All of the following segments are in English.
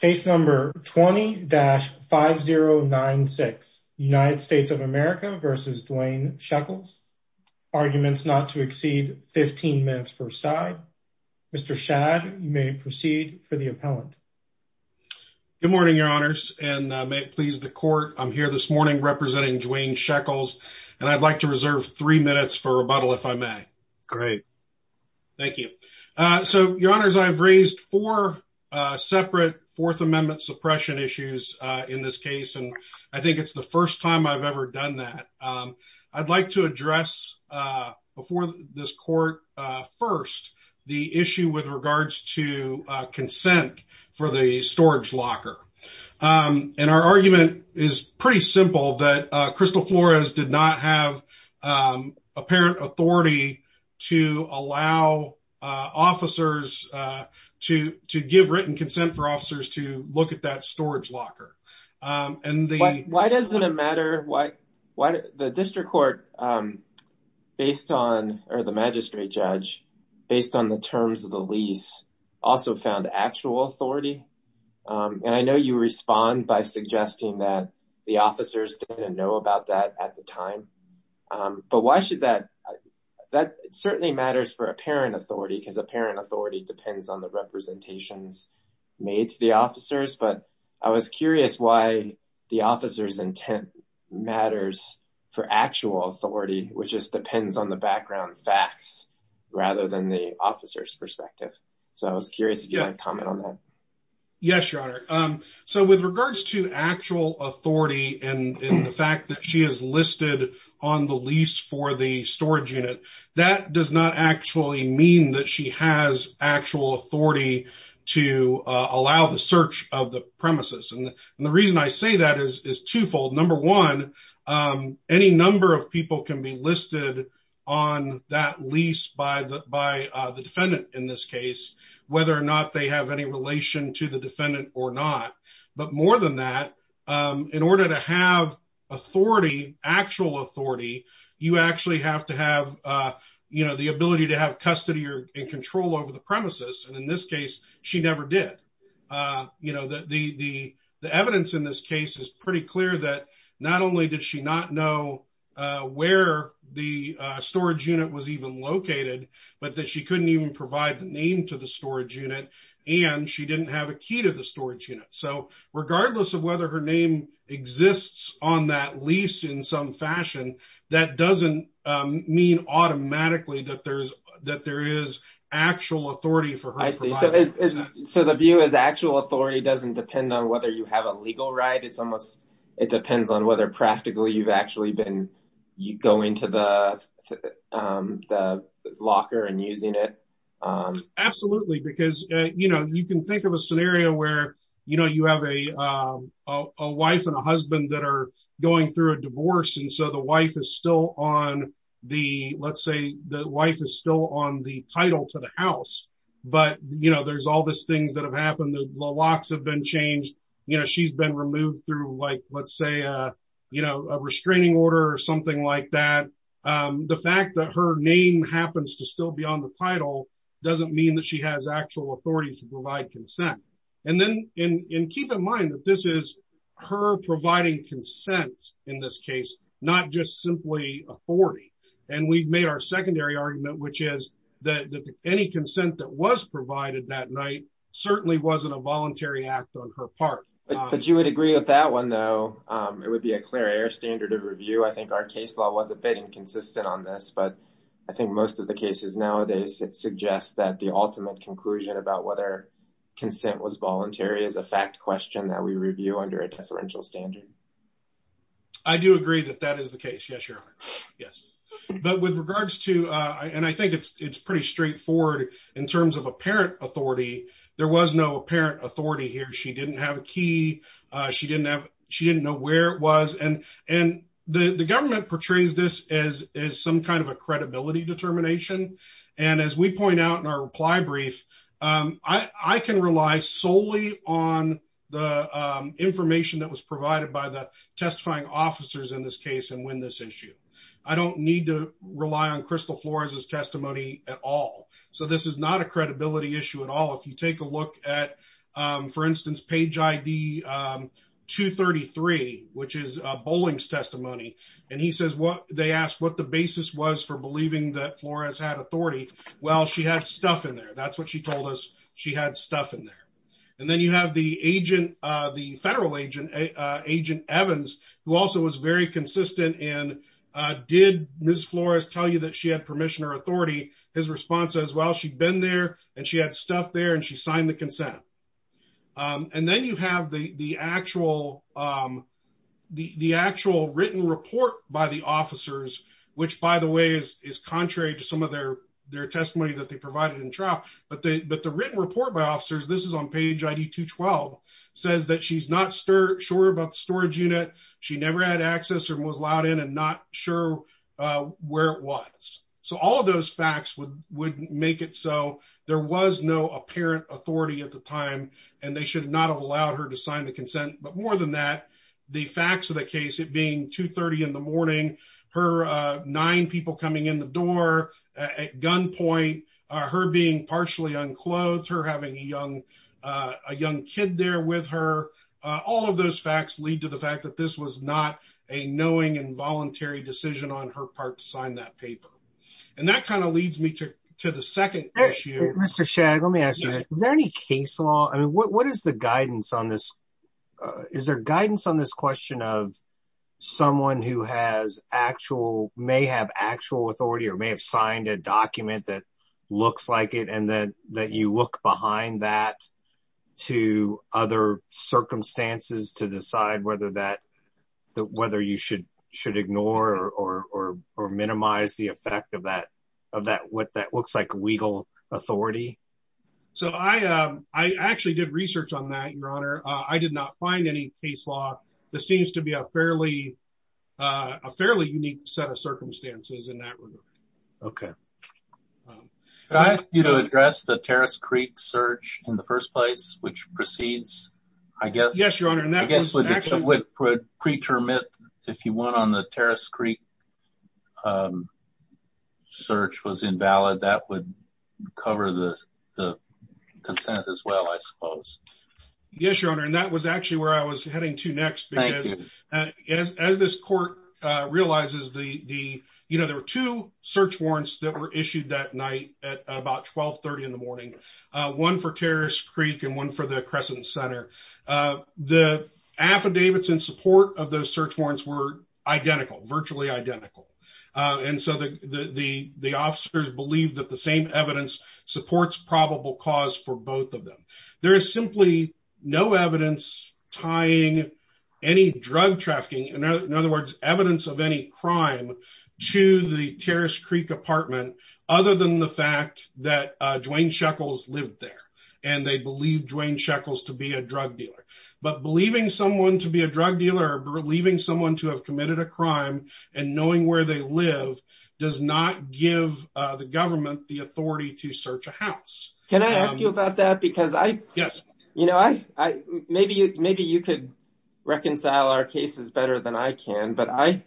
Case number 20-5096, United States of America v. Dwayne Sheckles. Arguments not to exceed 15 minutes per side. Mr. Shad, you may proceed for the appellant. Good morning, your honors, and may it please the court, I'm here this morning representing Dwayne Sheckles, and I'd like to reserve three minutes for rebuttal if I may. Great. Thank you. So, your honors, I've raised four separate Fourth Amendment suppression issues in this case, and I think it's the first time I've ever done that. I'd like to address before this court first the issue with regards to consent for the storage locker. And our argument is pretty simple, that Crystal Flores did not have apparent authority to allow officers to give written consent for officers to look at that storage locker. Why doesn't it matter? The district court, or the magistrate judge, based on the terms of the lease, also found actual authority. And I know you respond by suggesting that the officers didn't know about that at the time. But why should that? That certainly matters for apparent authority, because apparent authority depends on the representations made to the officers. But I was curious why the officer's intent matters for actual authority, which just depends on the I was curious if you'd like to comment on that. Yes, your honor. So, with regards to actual authority and the fact that she is listed on the lease for the storage unit, that does not actually mean that she has actual authority to allow the search of the premises. And the reason I say that is twofold. Number one, any number of people can be listed on that lease by the defendant in this case, whether or not they have any relation to the defendant or not. But more than that, in order to have authority, actual authority, you actually have to have the ability to have custody and control over the premises. And in this case, she never did. The evidence in this case is pretty clear that not only did she not know where the storage unit was even located, but that she couldn't even provide the name to the storage unit and she didn't have a key to the storage unit. So, regardless of whether her name exists on that lease in some fashion, that doesn't mean automatically that there is actual authority for her. I see. So, the view is actual authority doesn't depend on whether you have a legal right. It depends on whether you've actually been going to the locker and using it. Absolutely. Because you can think of a scenario where you have a wife and a husband that are going through a divorce and so the wife is still on the title to the house. But there's all these things that have happened. The locks have been changed. She's been removed through, let's say, a restraining order or something like that. The fact that her name happens to still be on the title doesn't mean that she has actual authority to provide consent. And keep in mind that this is her providing consent in this case, not just simply authority. And we've made our secondary argument, which is that any consent that was provided that night certainly wasn't a voluntary act on her part. But you would agree with that one, though. It would be a clear air standard of review. I think our case law was a bit inconsistent on this, but I think most of the cases nowadays suggest that the ultimate conclusion about whether consent was voluntary is a fact question that we review under a deferential standard. I do agree that that is the case. Yes, Your Honor. Yes. But with regards to, and I think it's pretty straightforward in terms of apparent authority, there was no apparent authority here. She didn't have a key. She didn't know where it was. And the government portrays this as some kind of a credibility determination. And as we point out in our reply brief, I can rely solely on the information that was provided by the testifying officers in this case and win this at all. So this is not a credibility issue at all. If you take a look at, for instance, page ID 233, which is a bowling's testimony. And he says, they asked what the basis was for believing that Flores had authority. Well, she had stuff in there. That's what she told us. She had stuff in there. And then you have the federal agent, Agent Evans, who also was very his response as well. She'd been there and she had stuff there and she signed the consent. And then you have the actual written report by the officers, which by the way, is contrary to some of their testimony that they provided in trial. But the written report by officers, this is on page ID 212, says that she's not sure about the storage unit. She never had access or in and not sure where it was. So all of those facts would make it so there was no apparent authority at the time and they should not have allowed her to sign the consent. But more than that, the facts of the case, it being 2.30 in the morning, her nine people coming in the door at gunpoint, her being partially unclothed, her having a young kid there with her, all of those facts lead to the fact that this was not a knowing involuntary decision on her part to sign that paper. And that kind of leads me to the second issue. Mr. Shagg, let me ask you, is there any case law? I mean, what is the guidance on this? Is there guidance on this question of someone who may have actual authority or may have signed a document that looks like it and that you look behind that to other circumstances to decide whether you should ignore or minimize the effect of what that looks like legal authority? So I actually did research on that, Your Honor. I did not find any case law. This seems to be a fairly unique set of circumstances in that regard. Okay. Could I ask you to address the Terrace Creek search in the first place, which proceeds, I guess? Yes, Your Honor. And that would preterm it if you want on the Terrace Creek search was invalid, that would cover the consent as well, I suppose. Yes, Your Honor. And that was actually where I was heading to next because as this court realizes, there were two search warrants that were issued that night at about 1230 in the morning, one for Terrace Creek and one for the Crescent Center. The affidavits in support of those search warrants were identical, virtually identical. And so the officers believe that the same evidence supports probable cause for both of them. There is simply no evidence tying any drug trafficking, in other words, evidence of any crime to the Terrace Creek apartment other than the fact that Dwayne Sheckles lived there and they believe Dwayne Sheckles to be a drug dealer. But believing someone to be a drug dealer, believing someone to have committed a crime, and knowing where they live does not give the government the authority to search a house. Can I ask you about that? Because maybe you could reconcile our cases better than I can, but I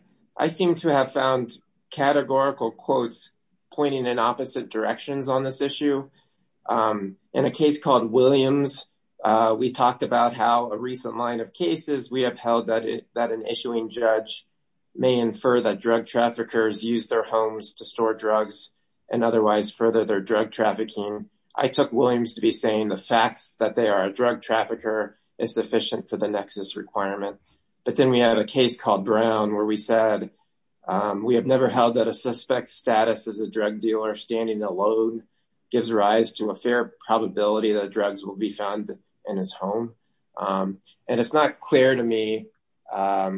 seem to have found categorical quotes pointing in opposite directions on this issue. In a case called Williams, we talked about how a recent line of cases we have that an issuing judge may infer that drug traffickers use their homes to store drugs and otherwise further their drug trafficking. I took Williams to be saying the fact that they are a drug trafficker is sufficient for the nexus requirement. But then we had a case called Brown where we said we have never held that a suspect's status as a drug dealer standing alone gives rise to a fair probability that drugs will be found in his home. And it's not clear to me that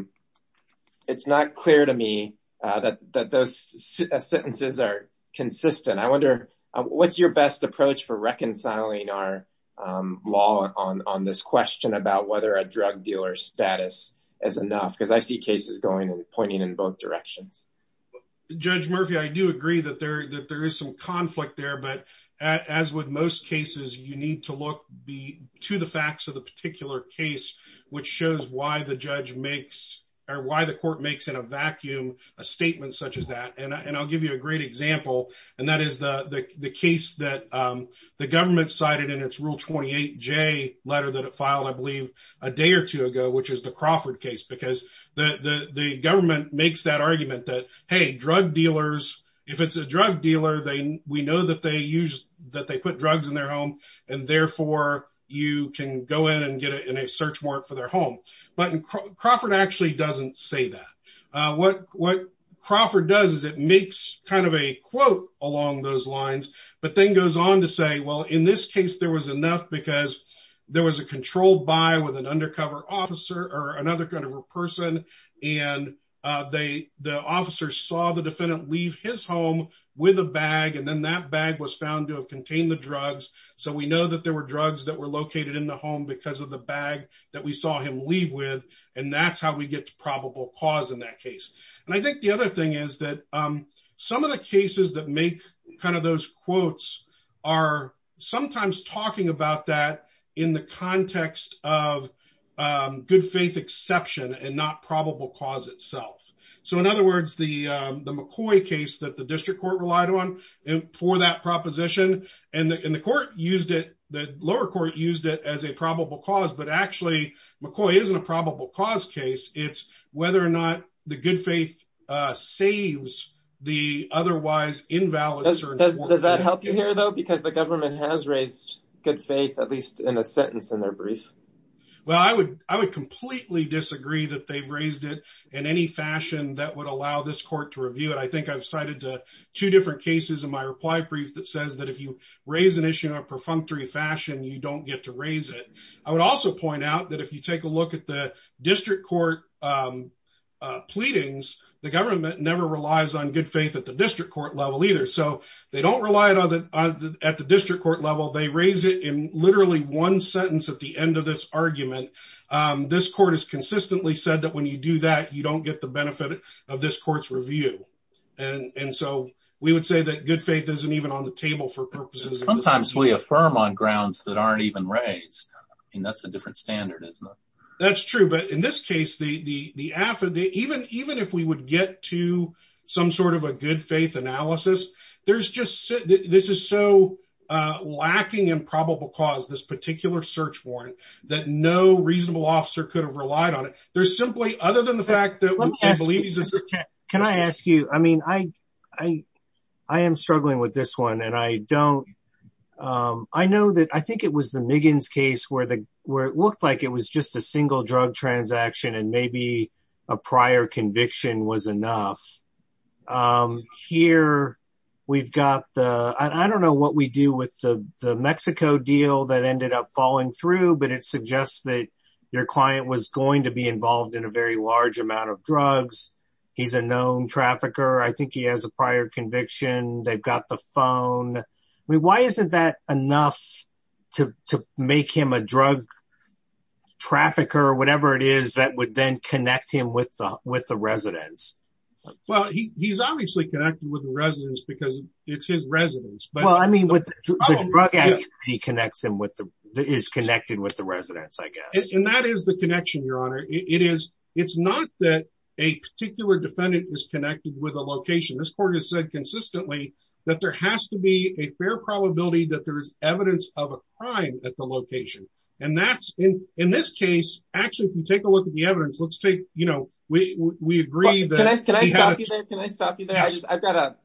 those sentences are consistent. I wonder, what's your best approach for reconciling our law on this question about whether a drug dealer's status is enough? Because I see cases going and pointing in both directions. Judge Murphy, I do agree that there is some conflict there. But as with most cases, you need to look to the facts of the particular case, which shows why the court makes in a vacuum a statement such as that. And I'll give you a great example. And that is the case that the government cited in its Rule 28J letter that it filed, I believe, a day or two ago, which is the Crawford case. Because the government makes that argument that, hey, drug dealers, if it's a drug dealer, we know that they put drugs in their home. And therefore, you can go in and get it in a search warrant for their home. But Crawford actually doesn't say that. What Crawford does is it makes kind of a quote along those lines, but then goes on to say, well, in this case, there was enough because there was a controlled buy with an or another kind of a person. And the officer saw the defendant leave his home with a bag. And then that bag was found to have contained the drugs. So we know that there were drugs that were located in the home because of the bag that we saw him leave with. And that's how we get to probable cause in that case. And I think the other thing is that some of the cases that make kind of those in the context of good faith exception and not probable cause itself. So in other words, the McCoy case that the district court relied on for that proposition, and the court used it, the lower court used it as a probable cause. But actually, McCoy isn't a probable cause case. It's whether or not the good faith saves the otherwise invalid. Does that help you here though? Because the government has raised good faith, at least in a sentence in their brief. Well, I would completely disagree that they've raised it in any fashion that would allow this court to review it. I think I've cited two different cases in my reply brief that says that if you raise an issue in a perfunctory fashion, you don't get to raise it. I would also point out that if you take a look at the district court pleadings, the government never relies on good faith at the district court level either. So they don't rely on it at the district court level. They raise it in literally one sentence at the end of this argument. This court has consistently said that when you do that, you don't get the benefit of this court's review. And so we would say that good faith isn't even on the table for purposes of- Sometimes we affirm on grounds that aren't even raised. And that's a different standard, isn't it? That's true. But in this case, even if we would get to some sort of a good faith analysis, this is so lacking in probable cause, this particular search warrant, that no reasonable officer could have relied on it. There's simply, other than the fact that- Let me ask you, Mr. Kent. Can I ask you? I am struggling with this and I don't- I think it was the Miggins case where it looked like it was just a single drug transaction and maybe a prior conviction was enough. Here, we've got the- I don't know what we do with the Mexico deal that ended up falling through, but it suggests that your client was going to be involved in a very large amount of drugs. He's a known trafficker. I think he has prior conviction. They've got the phone. I mean, why isn't that enough to make him a drug trafficker or whatever it is that would then connect him with the residence? Well, he's obviously connected with the residence because it's his residence, but- Well, I mean, the drug activity connects him with the- is connected with the residence, I guess. And that is the connection, Your Honor. It's not that a particular defendant is connected with a location. This court has said consistently that there has to be a fair probability that there's evidence of a crime at the location. And that's- in this case, actually, if you take a look at the evidence, let's take- we agree that- Can I stop you there? Can I stop you there?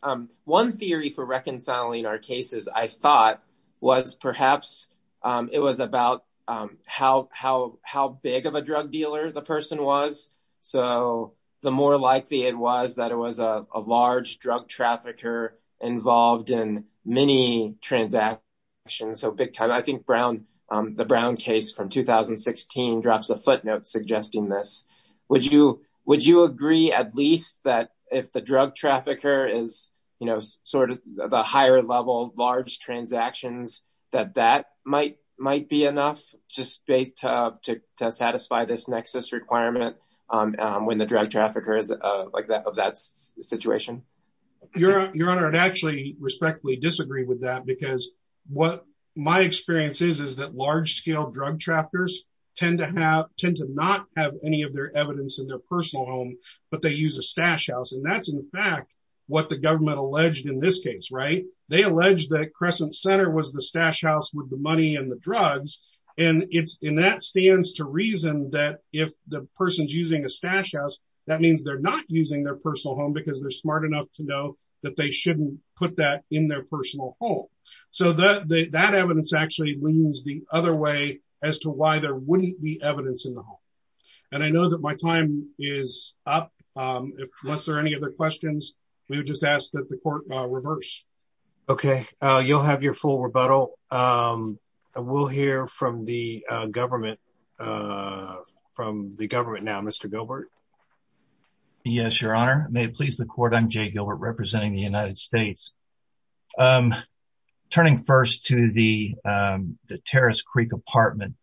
One theory for reconciling our cases, I thought, was perhaps it was about how big of a drug dealer the person was. So the more likely it was that it was a large drug trafficker involved in many transactions, so big time. I think Brown- the Brown case from 2016 drops a footnote suggesting this. Would you agree at least that if the drug trafficker is, you know, sort of the higher level, large transactions, that that might be enough just to satisfy this nexus requirement when the drug trafficker is like that of that situation? Your Honor, I'd actually respectfully disagree with that because what my experience is is that large scale drug traffickers tend to have- tend to not have any of their evidence in their personal home, but they use a stash house. And that's, in fact, what the government alleged in this case, right? They alleged that Crescent Center was the stash house with the money and the drugs, and it's- and that stands to reason that if the person's using a stash house, that means they're not using their personal home because they're smart enough to know that they shouldn't put that in their personal home. So that evidence actually leans the other way as to why there wouldn't be evidence in the home. And I know that my time is up. Unless there are any other questions, we would just ask that the court reverse. Okay, you'll have your full rebuttal. We'll hear from the government- from the government now. Mr. Gilbert? Yes, Your Honor. May it please the court, I'm Jay Gilbert representing the United States. Turning first to the- the Terrace Creek apartment,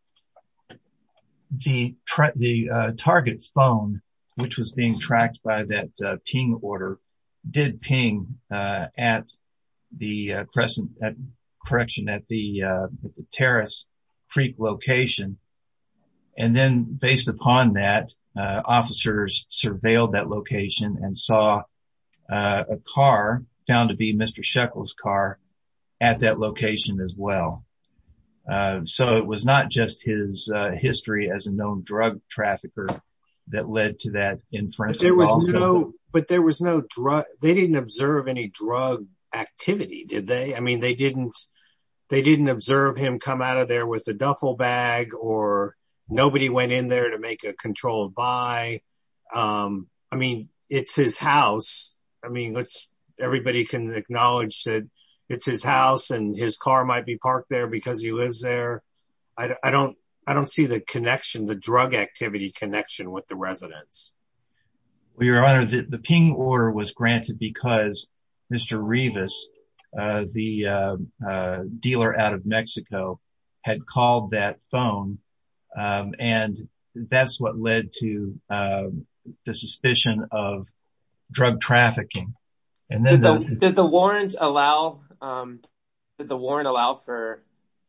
the- the target's phone, which was being tracked by that ping order, did ping at the Crescent- correction, at the- the Terrace Creek location. And then based upon that, officers surveilled that location and saw a car found to be Mr. Sheckle's car at that location as well. So it was not just his history as a known drug trafficker that led to that inference. But there was no drug- they didn't observe any drug activity, did they? I mean, they didn't- they didn't observe him come out of there with a duffel bag or nobody went in there to make a controlled buy. I mean, it's his house. I mean, let's- everybody can acknowledge that it's his house and his car might be parked there because he lives there. I don't- I don't see the connection, the drug activity connection with the residents. Well, Your Honor, the ping order was granted because Mr. Rivas, the dealer out of Mexico, had called that phone and that's what led to the suspicion of drug trafficking. And then- Did the warrant allow- did the warrant allow for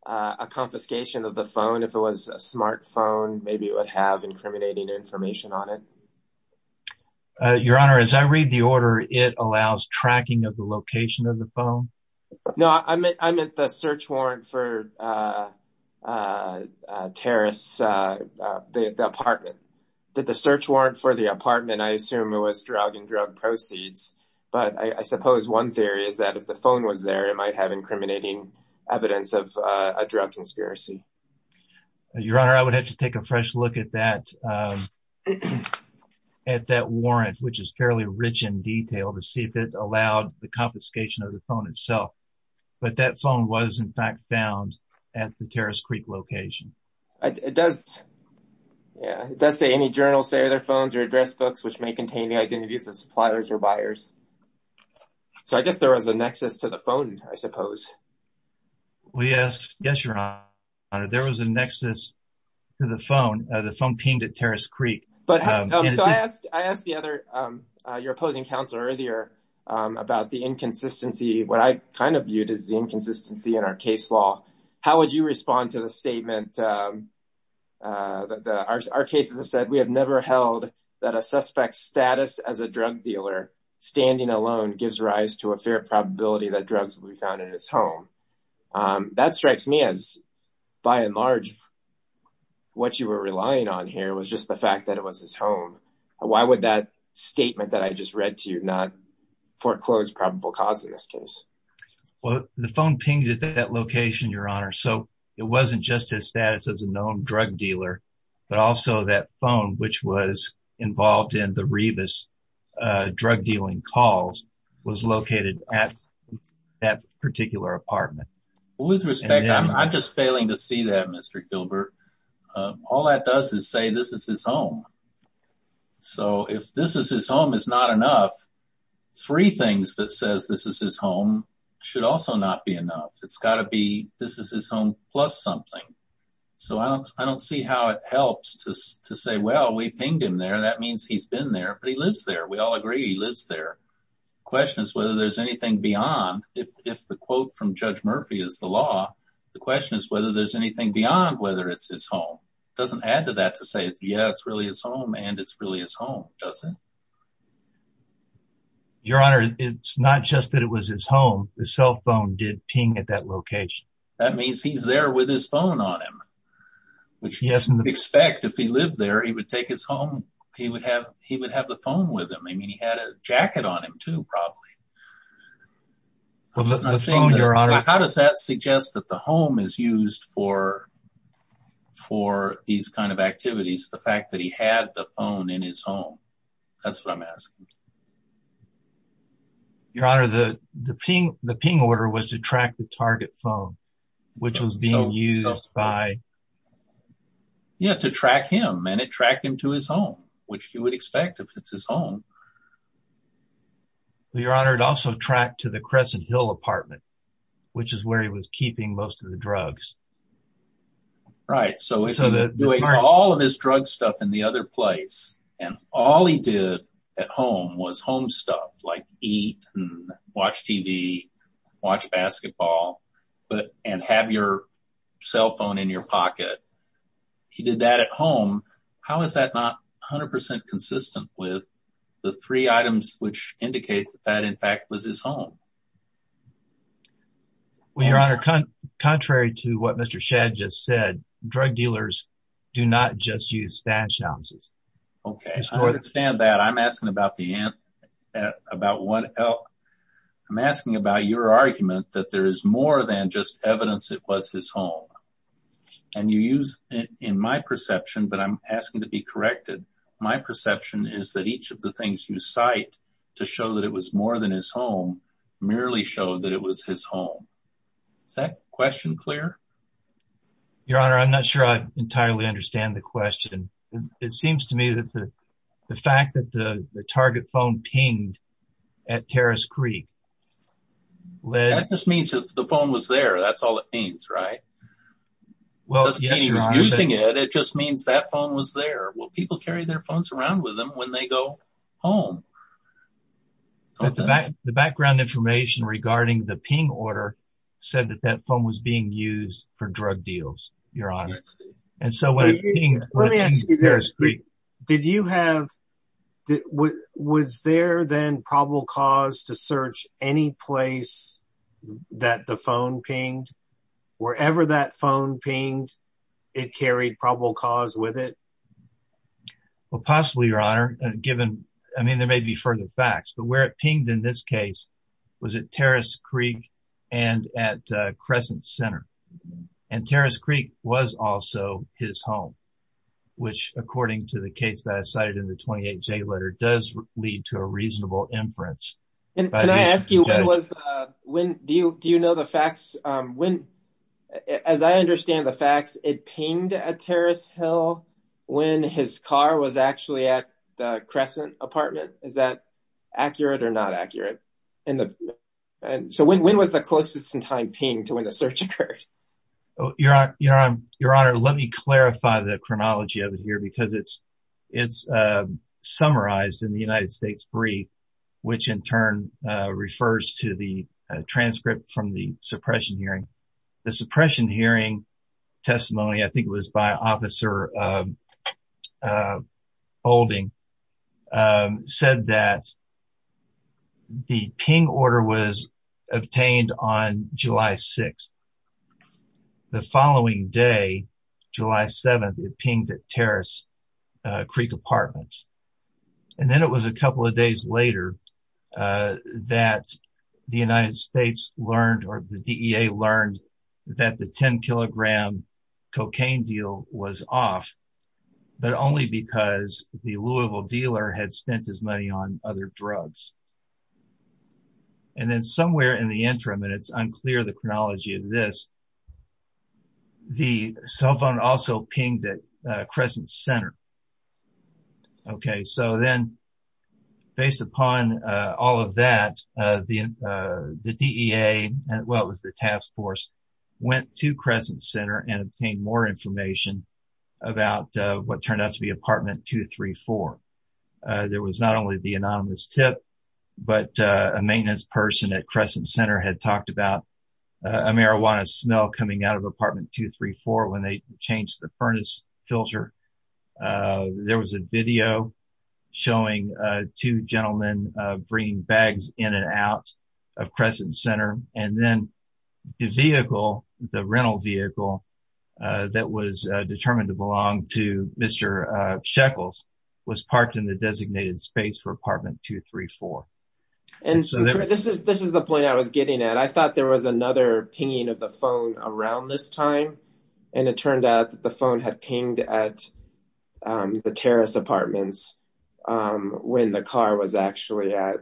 a confiscation of the phone? If it was a smartphone, maybe it would have incriminating information on it. Your Honor, as I read the order, it allows tracking of the location of the phone. No, I meant- I meant the search warrant for terrorists- the apartment. Did the search warrant for the apartment, I assume it was drug and drug proceeds. But I suppose one theory is that if the phone was there, it might have incriminating evidence of a drug conspiracy. Your Honor, I would have to take a fresh look at that- at that warrant, which is fairly rich in detail, to see if it allowed the confiscation of the phone but that phone was in fact found at the Terrace Creek location. It does- yeah, it does say any journal, say, of their phones or address books which may contain the identities of suppliers or buyers. So I guess there was a nexus to the phone, I suppose. Yes, Your Honor, there was a nexus to the phone. The phone pinged at Terrace Creek. So I asked the other- your opposing counsel earlier about the inconsistency, what I kind of viewed as the inconsistency in our case law. How would you respond to the statement that our cases have said, we have never held that a suspect's status as a drug dealer standing alone gives rise to a fair probability that drugs will be found in his home. That strikes me as, by and large, what you were relying on here was just the statement that I just read to you, not foreclosed probable cause in this case. Well, the phone pinged at that location, Your Honor, so it wasn't just his status as a known drug dealer but also that phone, which was involved in the Rebus drug dealing calls, was located at that particular apartment. With respect, I'm just failing to see that, Mr. Gilbert. All that does is say this is his home. So if this is his home is not enough, three things that says this is his home should also not be enough. It's got to be this is his home plus something. So I don't see how it helps to say, well, we pinged him there. That means he's been there, but he lives there. We all agree he lives there. The question is whether there's anything beyond. If the quote from Judge Murphy is the law, the question is whether there's anything beyond whether it's his home. It doesn't add to that to say, yeah, it's really his home and it's really his home, does it? Your Honor, it's not just that it was his home. The cell phone did ping at that location. That means he's there with his phone on him, which we expect if he lived there, he would take his home. He would have the phone with him. I mean, he had a jacket on him, probably. How does that suggest that the home is used for these kind of activities, the fact that he had the phone in his home? That's what I'm asking. Your Honor, the ping order was to track the target phone, which was being used by. Yeah, to track him and it tracked him to his home, which you would expect if it's his home. Your Honor, it also tracked to the Crescent Hill apartment, which is where he was keeping most of the drugs. Right, so he was doing all of his drug stuff in the other place and all he did at home was home stuff like eat and watch TV, watch basketball, and have your cell phone in your his home. Well, Your Honor, contrary to what Mr. Shadd just said, drug dealers do not just use stash ounces. Okay, I understand that. I'm asking about your argument that there is more than just evidence it was his home and you use in my perception, but I'm asking to be corrected. My perception is that each of the things you cite to show that it was more than his home merely showed that it was his home. Is that question clear? Your Honor, I'm not sure I entirely understand the question. It seems to me that the fact that the target phone pinged at Terrace Creek. That just means that the phone was there. That's all it means, right? Well, using it, it just means that phone was there. Well, people carry their phones around with them when they go home. The background information regarding the ping order said that that phone was being used for drug deals, Your Honor. Let me ask you this, did you have, was there then probable cause to search any place that the phone pinged? Wherever that phone pinged, it carried probable cause with it? Well, possibly, Your Honor, given, I mean, there may be further facts, but where it pinged in this case was at Terrace Creek and at Crescent Center. And Terrace Creek was also his home, which according to the case that I cited in the 28J letter does lead to a reasonable inference. And can I ask you, do you know the facts? As I understand the facts, it pinged at Terrace Hill when his car was actually at the Crescent apartment. Is that accurate or not accurate? So when was the closest in time pinged to when the search occurred? Well, Your Honor, let me clarify the chronology of it here because it's summarized in the United States brief, which in turn refers to the transcript from the suppression hearing. The suppression hearing testimony, I think it was by Officer Olding, said that the ping order was obtained on July 6th. The following day, July 7th, it pinged at Terrace Creek Apartments. And then it was a couple of days later that the United States learned, or the DEA learned, that the 10-kilogram cocaine deal was off, but only because the Louisville dealer had spent his money on other drugs. And then somewhere in the interim, and it's unclear the chronology of this, the cell phone also pinged at Crescent Center. Okay, so then based upon all of that, the DEA, well, it was the task force, went to Crescent Center and obtained more information about what turned out to be apartment 234. There was not only the anonymous tip, but a maintenance person at Crescent Center had talked about a marijuana smell coming out of apartment 234 when they changed the furnace filter. There was a video showing two gentlemen bringing bags in and out of Crescent Center. And then the vehicle, the rental vehicle, that was determined to belong to Mr. Shekels was parked in the designated space for apartment 234. And so this is the point I was getting at. I thought there was another pinging of the phone around this time, and it turned out the phone had pinged at the Terrace Apartments when the car was actually at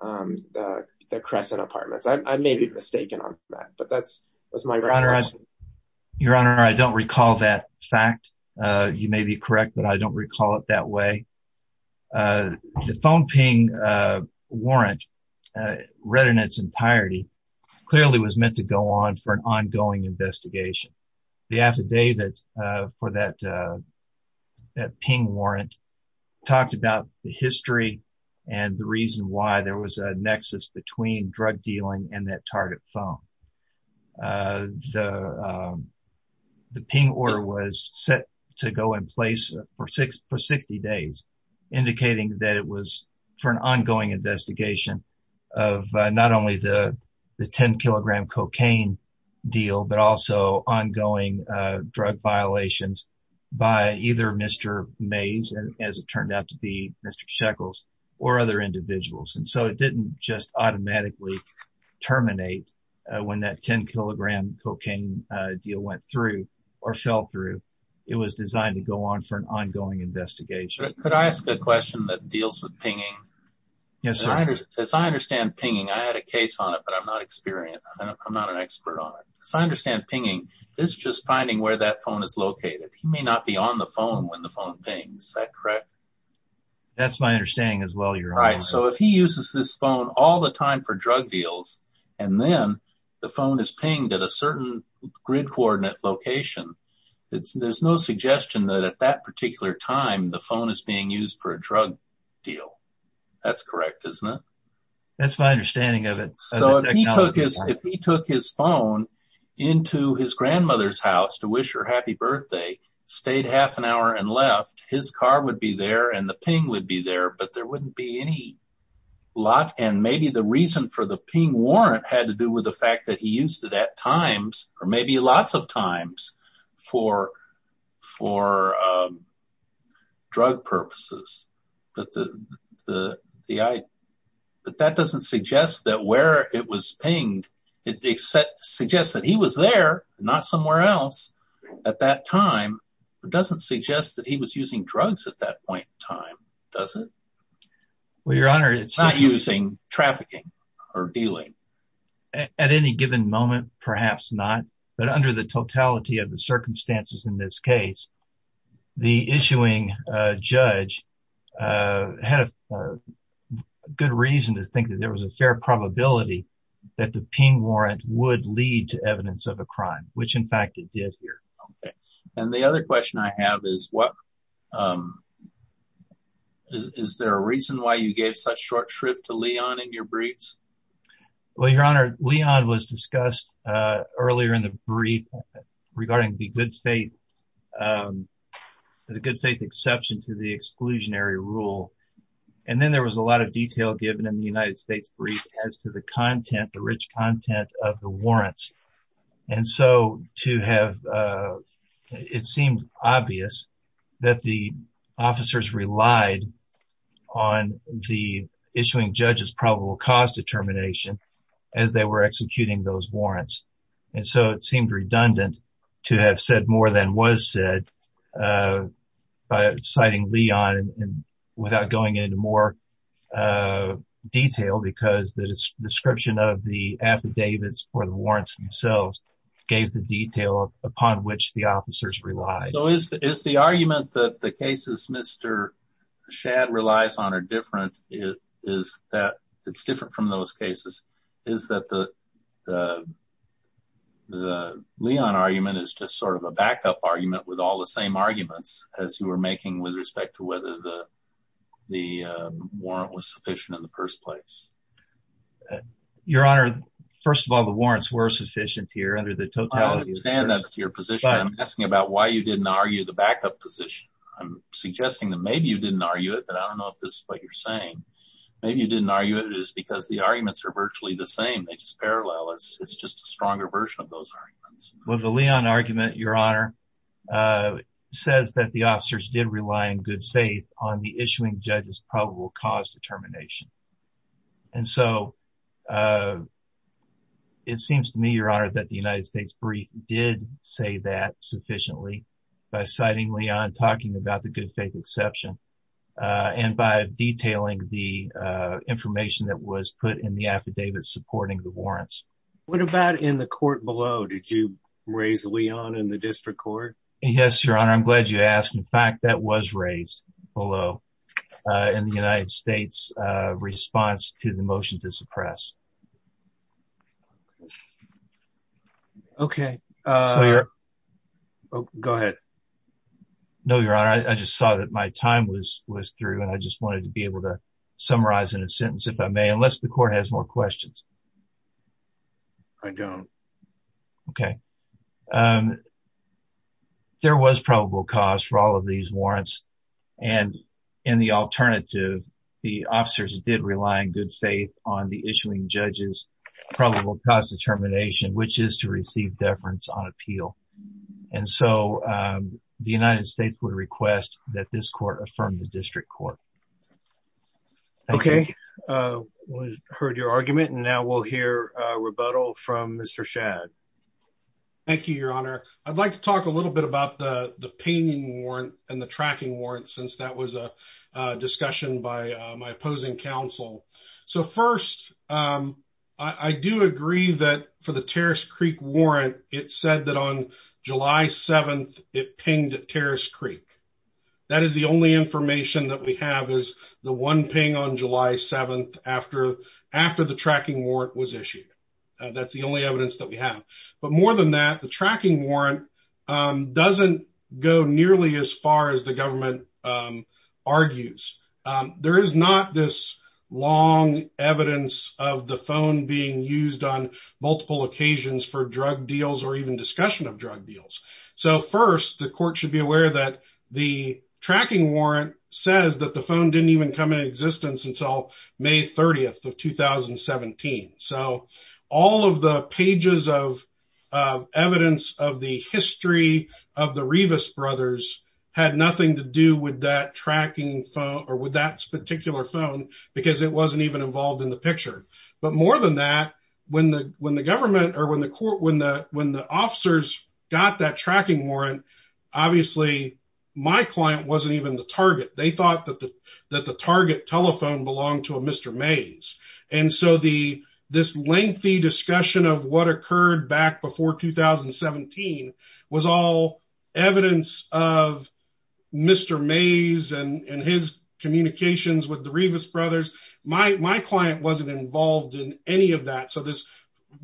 the Crescent Apartments. I may be mistaken on that, but that's my guess. Your Honor, I don't recall that fact. You may be correct, but I don't recall it that way. The phone ping warrant, read in its entirety, clearly was meant to go on for an ongoing investigation. The affidavit for that ping warrant talked about the history and the reason why there was a nexus between drug dealing and that target phone. The ping order was set to go in place for 60 days, indicating that it was for an ongoing investigation of not only the 10-kilogram cocaine deal, but also ongoing drug violations by either Mr. Mays, as it turned out to be, Mr. Shekels, or other individuals. And so it didn't just automatically terminate when that 10-kilogram cocaine deal went through or fell through. It was designed to go on for an ongoing investigation. Could I ask a question that deals with pinging? Yes, sir. As I understand pinging, I had a case on it, but I'm not an expert on it. As I understand pinging, it's just finding where that phone is located. He may not be on the phone when the phone pings, is that correct? That's my understanding as well, Your Honor. Right, so if he uses this phone all the time for drug deals, and then the phone is pinged at a certain grid coordinate location, there's no suggestion that at that particular time the phone is being used for a drug deal. That's correct, isn't it? That's my understanding of it. So if he took his phone into his grandmother's house to wish her happy birthday, stayed half an hour and left, his car would be there and the ping would be there, but there wouldn't be any lock. And maybe the reason for the ping warrant had to do with the fact that he used it at times, or maybe lots of times, for drug purposes. But that doesn't suggest that where it was pinged, it suggests that he was there, not somewhere else at that time. It doesn't suggest that he was using drugs at that point in time, does it? Well, Your Honor, it's not using trafficking or dealing. At any given moment, perhaps not, but under the totality of the circumstances in this case, the issuing judge had a good reason to think that there was a fair probability that the ping warrant would lead to evidence of a crime, which in fact it did here. Okay, and the other question I have is, is there a reason why you gave such short shrift to Leon in your briefs? Well, Your Honor, Leon was discussed earlier in the brief regarding the good faith exception to the exclusionary rule, and then there was a lot of detail given in the United States brief as to the content, the rich content of the warrants. And so, it seemed obvious that the officers relied on the issuing judge's probable cause determination as they were executing those warrants. And so, it seemed redundant to have said more than was said by citing Leon without going into more detail because the description of the affidavits or officers relied. So, is the argument that the cases Mr. Shadd relies on are different, is that it's different from those cases? Is that the Leon argument is just sort of a backup argument with all the same arguments as you were making with respect to whether the warrant was sufficient in the first place? Your Honor, first of all, the warrants were sufficient here under the totality. I understand that's your position. I'm asking about why you didn't argue the backup position. I'm suggesting that maybe you didn't argue it, but I don't know if this is what you're saying. Maybe you didn't argue it is because the arguments are virtually the same. They just parallel. It's just a stronger version of those arguments. Well, the Leon argument, Your Honor, says that the officers did rely on good faith on the issuing judge's probable cause determination. And so, it seems to me, Your Honor, that the United States brief did say that sufficiently by citing Leon, talking about the good faith exception, and by detailing the information that was put in the affidavit supporting the warrants. What about in the court below? Did you raise Leon in the district court? Yes, Your Honor. I'm glad you asked. In fact, that was raised below in the United States response to the motion to suppress. Okay. Go ahead. No, Your Honor. I just saw that my time was through, and I just wanted to be able to summarize in a sentence, if I may, unless the court has more questions. I don't. Okay. There was probable cause for all of these warrants, and in the alternative, the officers did rely on good faith on the issuing judge's probable cause determination, which is to receive deference on appeal. And so, the United States would request that this court affirm the district court. Okay. We've heard your argument, and now we'll hear a rebuttal from Mr. Shad. Thank you, Your Honor. I'd like to talk a little bit about the pinging warrant and the tracking warrant, since that was a discussion by my opposing counsel. So, first, I do agree that for the Terrace Creek warrant, it said that on July 7th, it pinged at Terrace Creek. That is the only information that we have, is the one ping on July 7th after the tracking warrant was issued. That's the only evidence that we have. But more than that, the tracking warrant doesn't go nearly as far as the government argues. There is not this long evidence of the phone being used on multiple occasions for drug deals or even discussion of drug deals. So, first, the court should be aware that the tracking warrant says that the phone didn't even come into existence until May 30th of 2017. So, all of the pages of evidence of the history of the Revis brothers had nothing to do with that tracking phone or with that particular phone, because it wasn't even involved in the picture. But more than that, when the government or when the officers got that tracking warrant, obviously, my client wasn't even the target. They thought that the target telephone belonged to a Mr. Mays. And so, this lengthy discussion of what occurred back before 2017 was all evidence of Mr. Mays and his communications with the Revis brothers. My client wasn't involved in any of that. So, this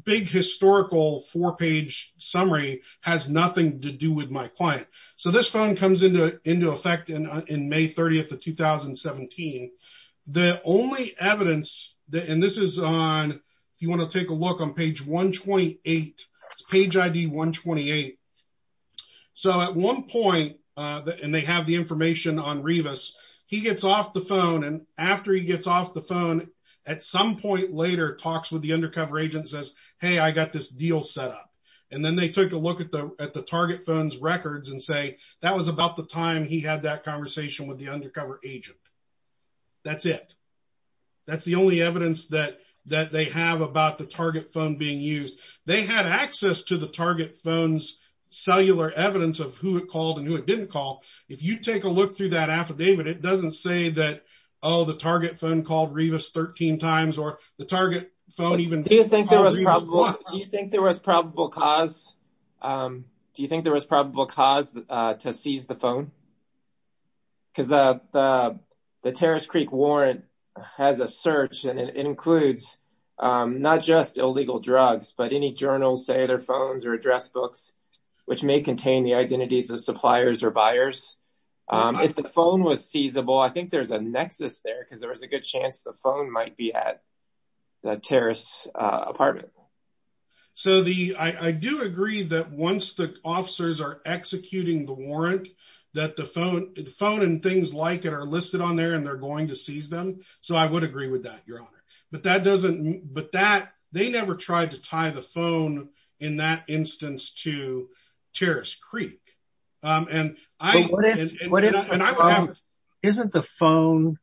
big historical four-page summary has nothing to do with my client. So, this phone comes into effect in May 30th of 2017. The only evidence, and this is on, if you want to take a look on page 128, it's page ID 128. So, at one point, and they have the information on Revis, he gets off the phone. And after he gets off the phone, at some point later, talks with the undercover agent and says, hey, I got this deal set up. And then they took a look at the target phone's records and say, that was about the time he had that conversation with the undercover agent. That's it. That's the only evidence that they have about the target phone being used. They had access to the target phone's cellular evidence of who it called and who it didn't call. If you take a look through that affidavit, it doesn't say that, oh, the target phone called Revis 13 times or the target phone even called Revis once. Do you think there was probable cause to seize the phone? Because the Terrace Creek warrant has a search and it includes not just illegal drugs, but any journals, say their phones or address books, which may contain the identities of suppliers or buyers. If the phone was seizable, I think there's a nexus there because there was a good chance the phone might be at the Terrace apartment. So, I do agree that once the officers are executing the warrant, that the phone and things like it are listed on there and they're going to seize them. So, I would agree with that, Your Honor. They never tried to tie the phone in that instance to Terrace Creek. Isn't the phone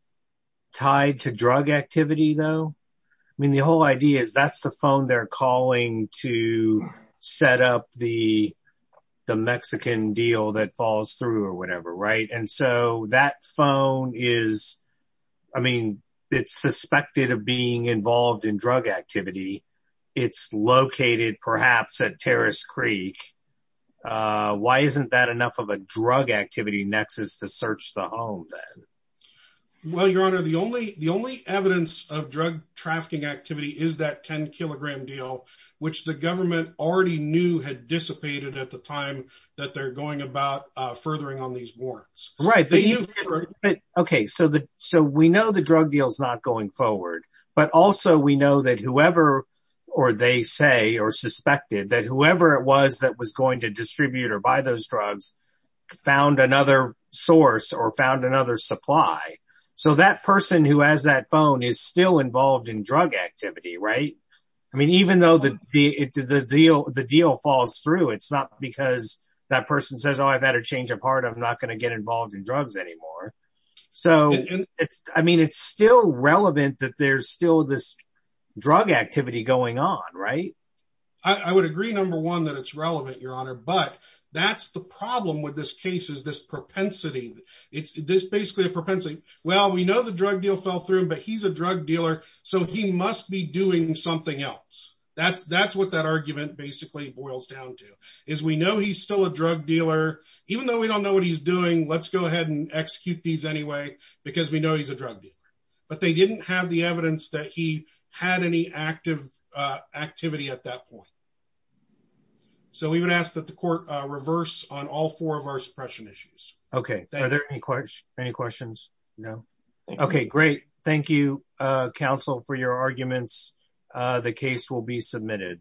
tied to drug activity, though? I mean, the whole idea is that's the phone they're calling to set up the Mexican deal that falls through or whatever, right? And so, that phone is, I mean, it's suspected of being involved in drug activity. It's located perhaps at Terrace Creek. Why isn't that enough of a drug activity nexus to search the home then? Well, Your Honor, the only evidence of drug trafficking activity is that 10-kilogram deal, which the government already knew had dissipated at the time that they're going about the warrants. Right. Okay. So, we know the drug deal's not going forward, but also we know that whoever, or they say or suspected that whoever it was that was going to distribute or buy those drugs found another source or found another supply. So, that person who has that phone is still involved in drug activity, right? I mean, even though the deal falls through, it's not because that person says, oh, I've had a change of heart. I'm not going to get involved in drugs anymore. So, it's, I mean, it's still relevant that there's still this drug activity going on, right? I would agree, number one, that it's relevant, Your Honor, but that's the problem with this case is this propensity. It's basically a propensity. Well, we know the drug deal fell through, but he's a drug dealer, so he must be doing something else. That's what that argument basically boils down to is we know he's still a drug dealer. Even though we don't know what he's doing, let's go ahead and execute these anyway because we know he's a drug dealer, but they didn't have the evidence that he had any active activity at that point. So, we would ask that the court reverse on all four of our suppression issues. Okay. Are there any questions? No. Okay. Great. Thank you, counsel, for your arguments. The case will be submitted.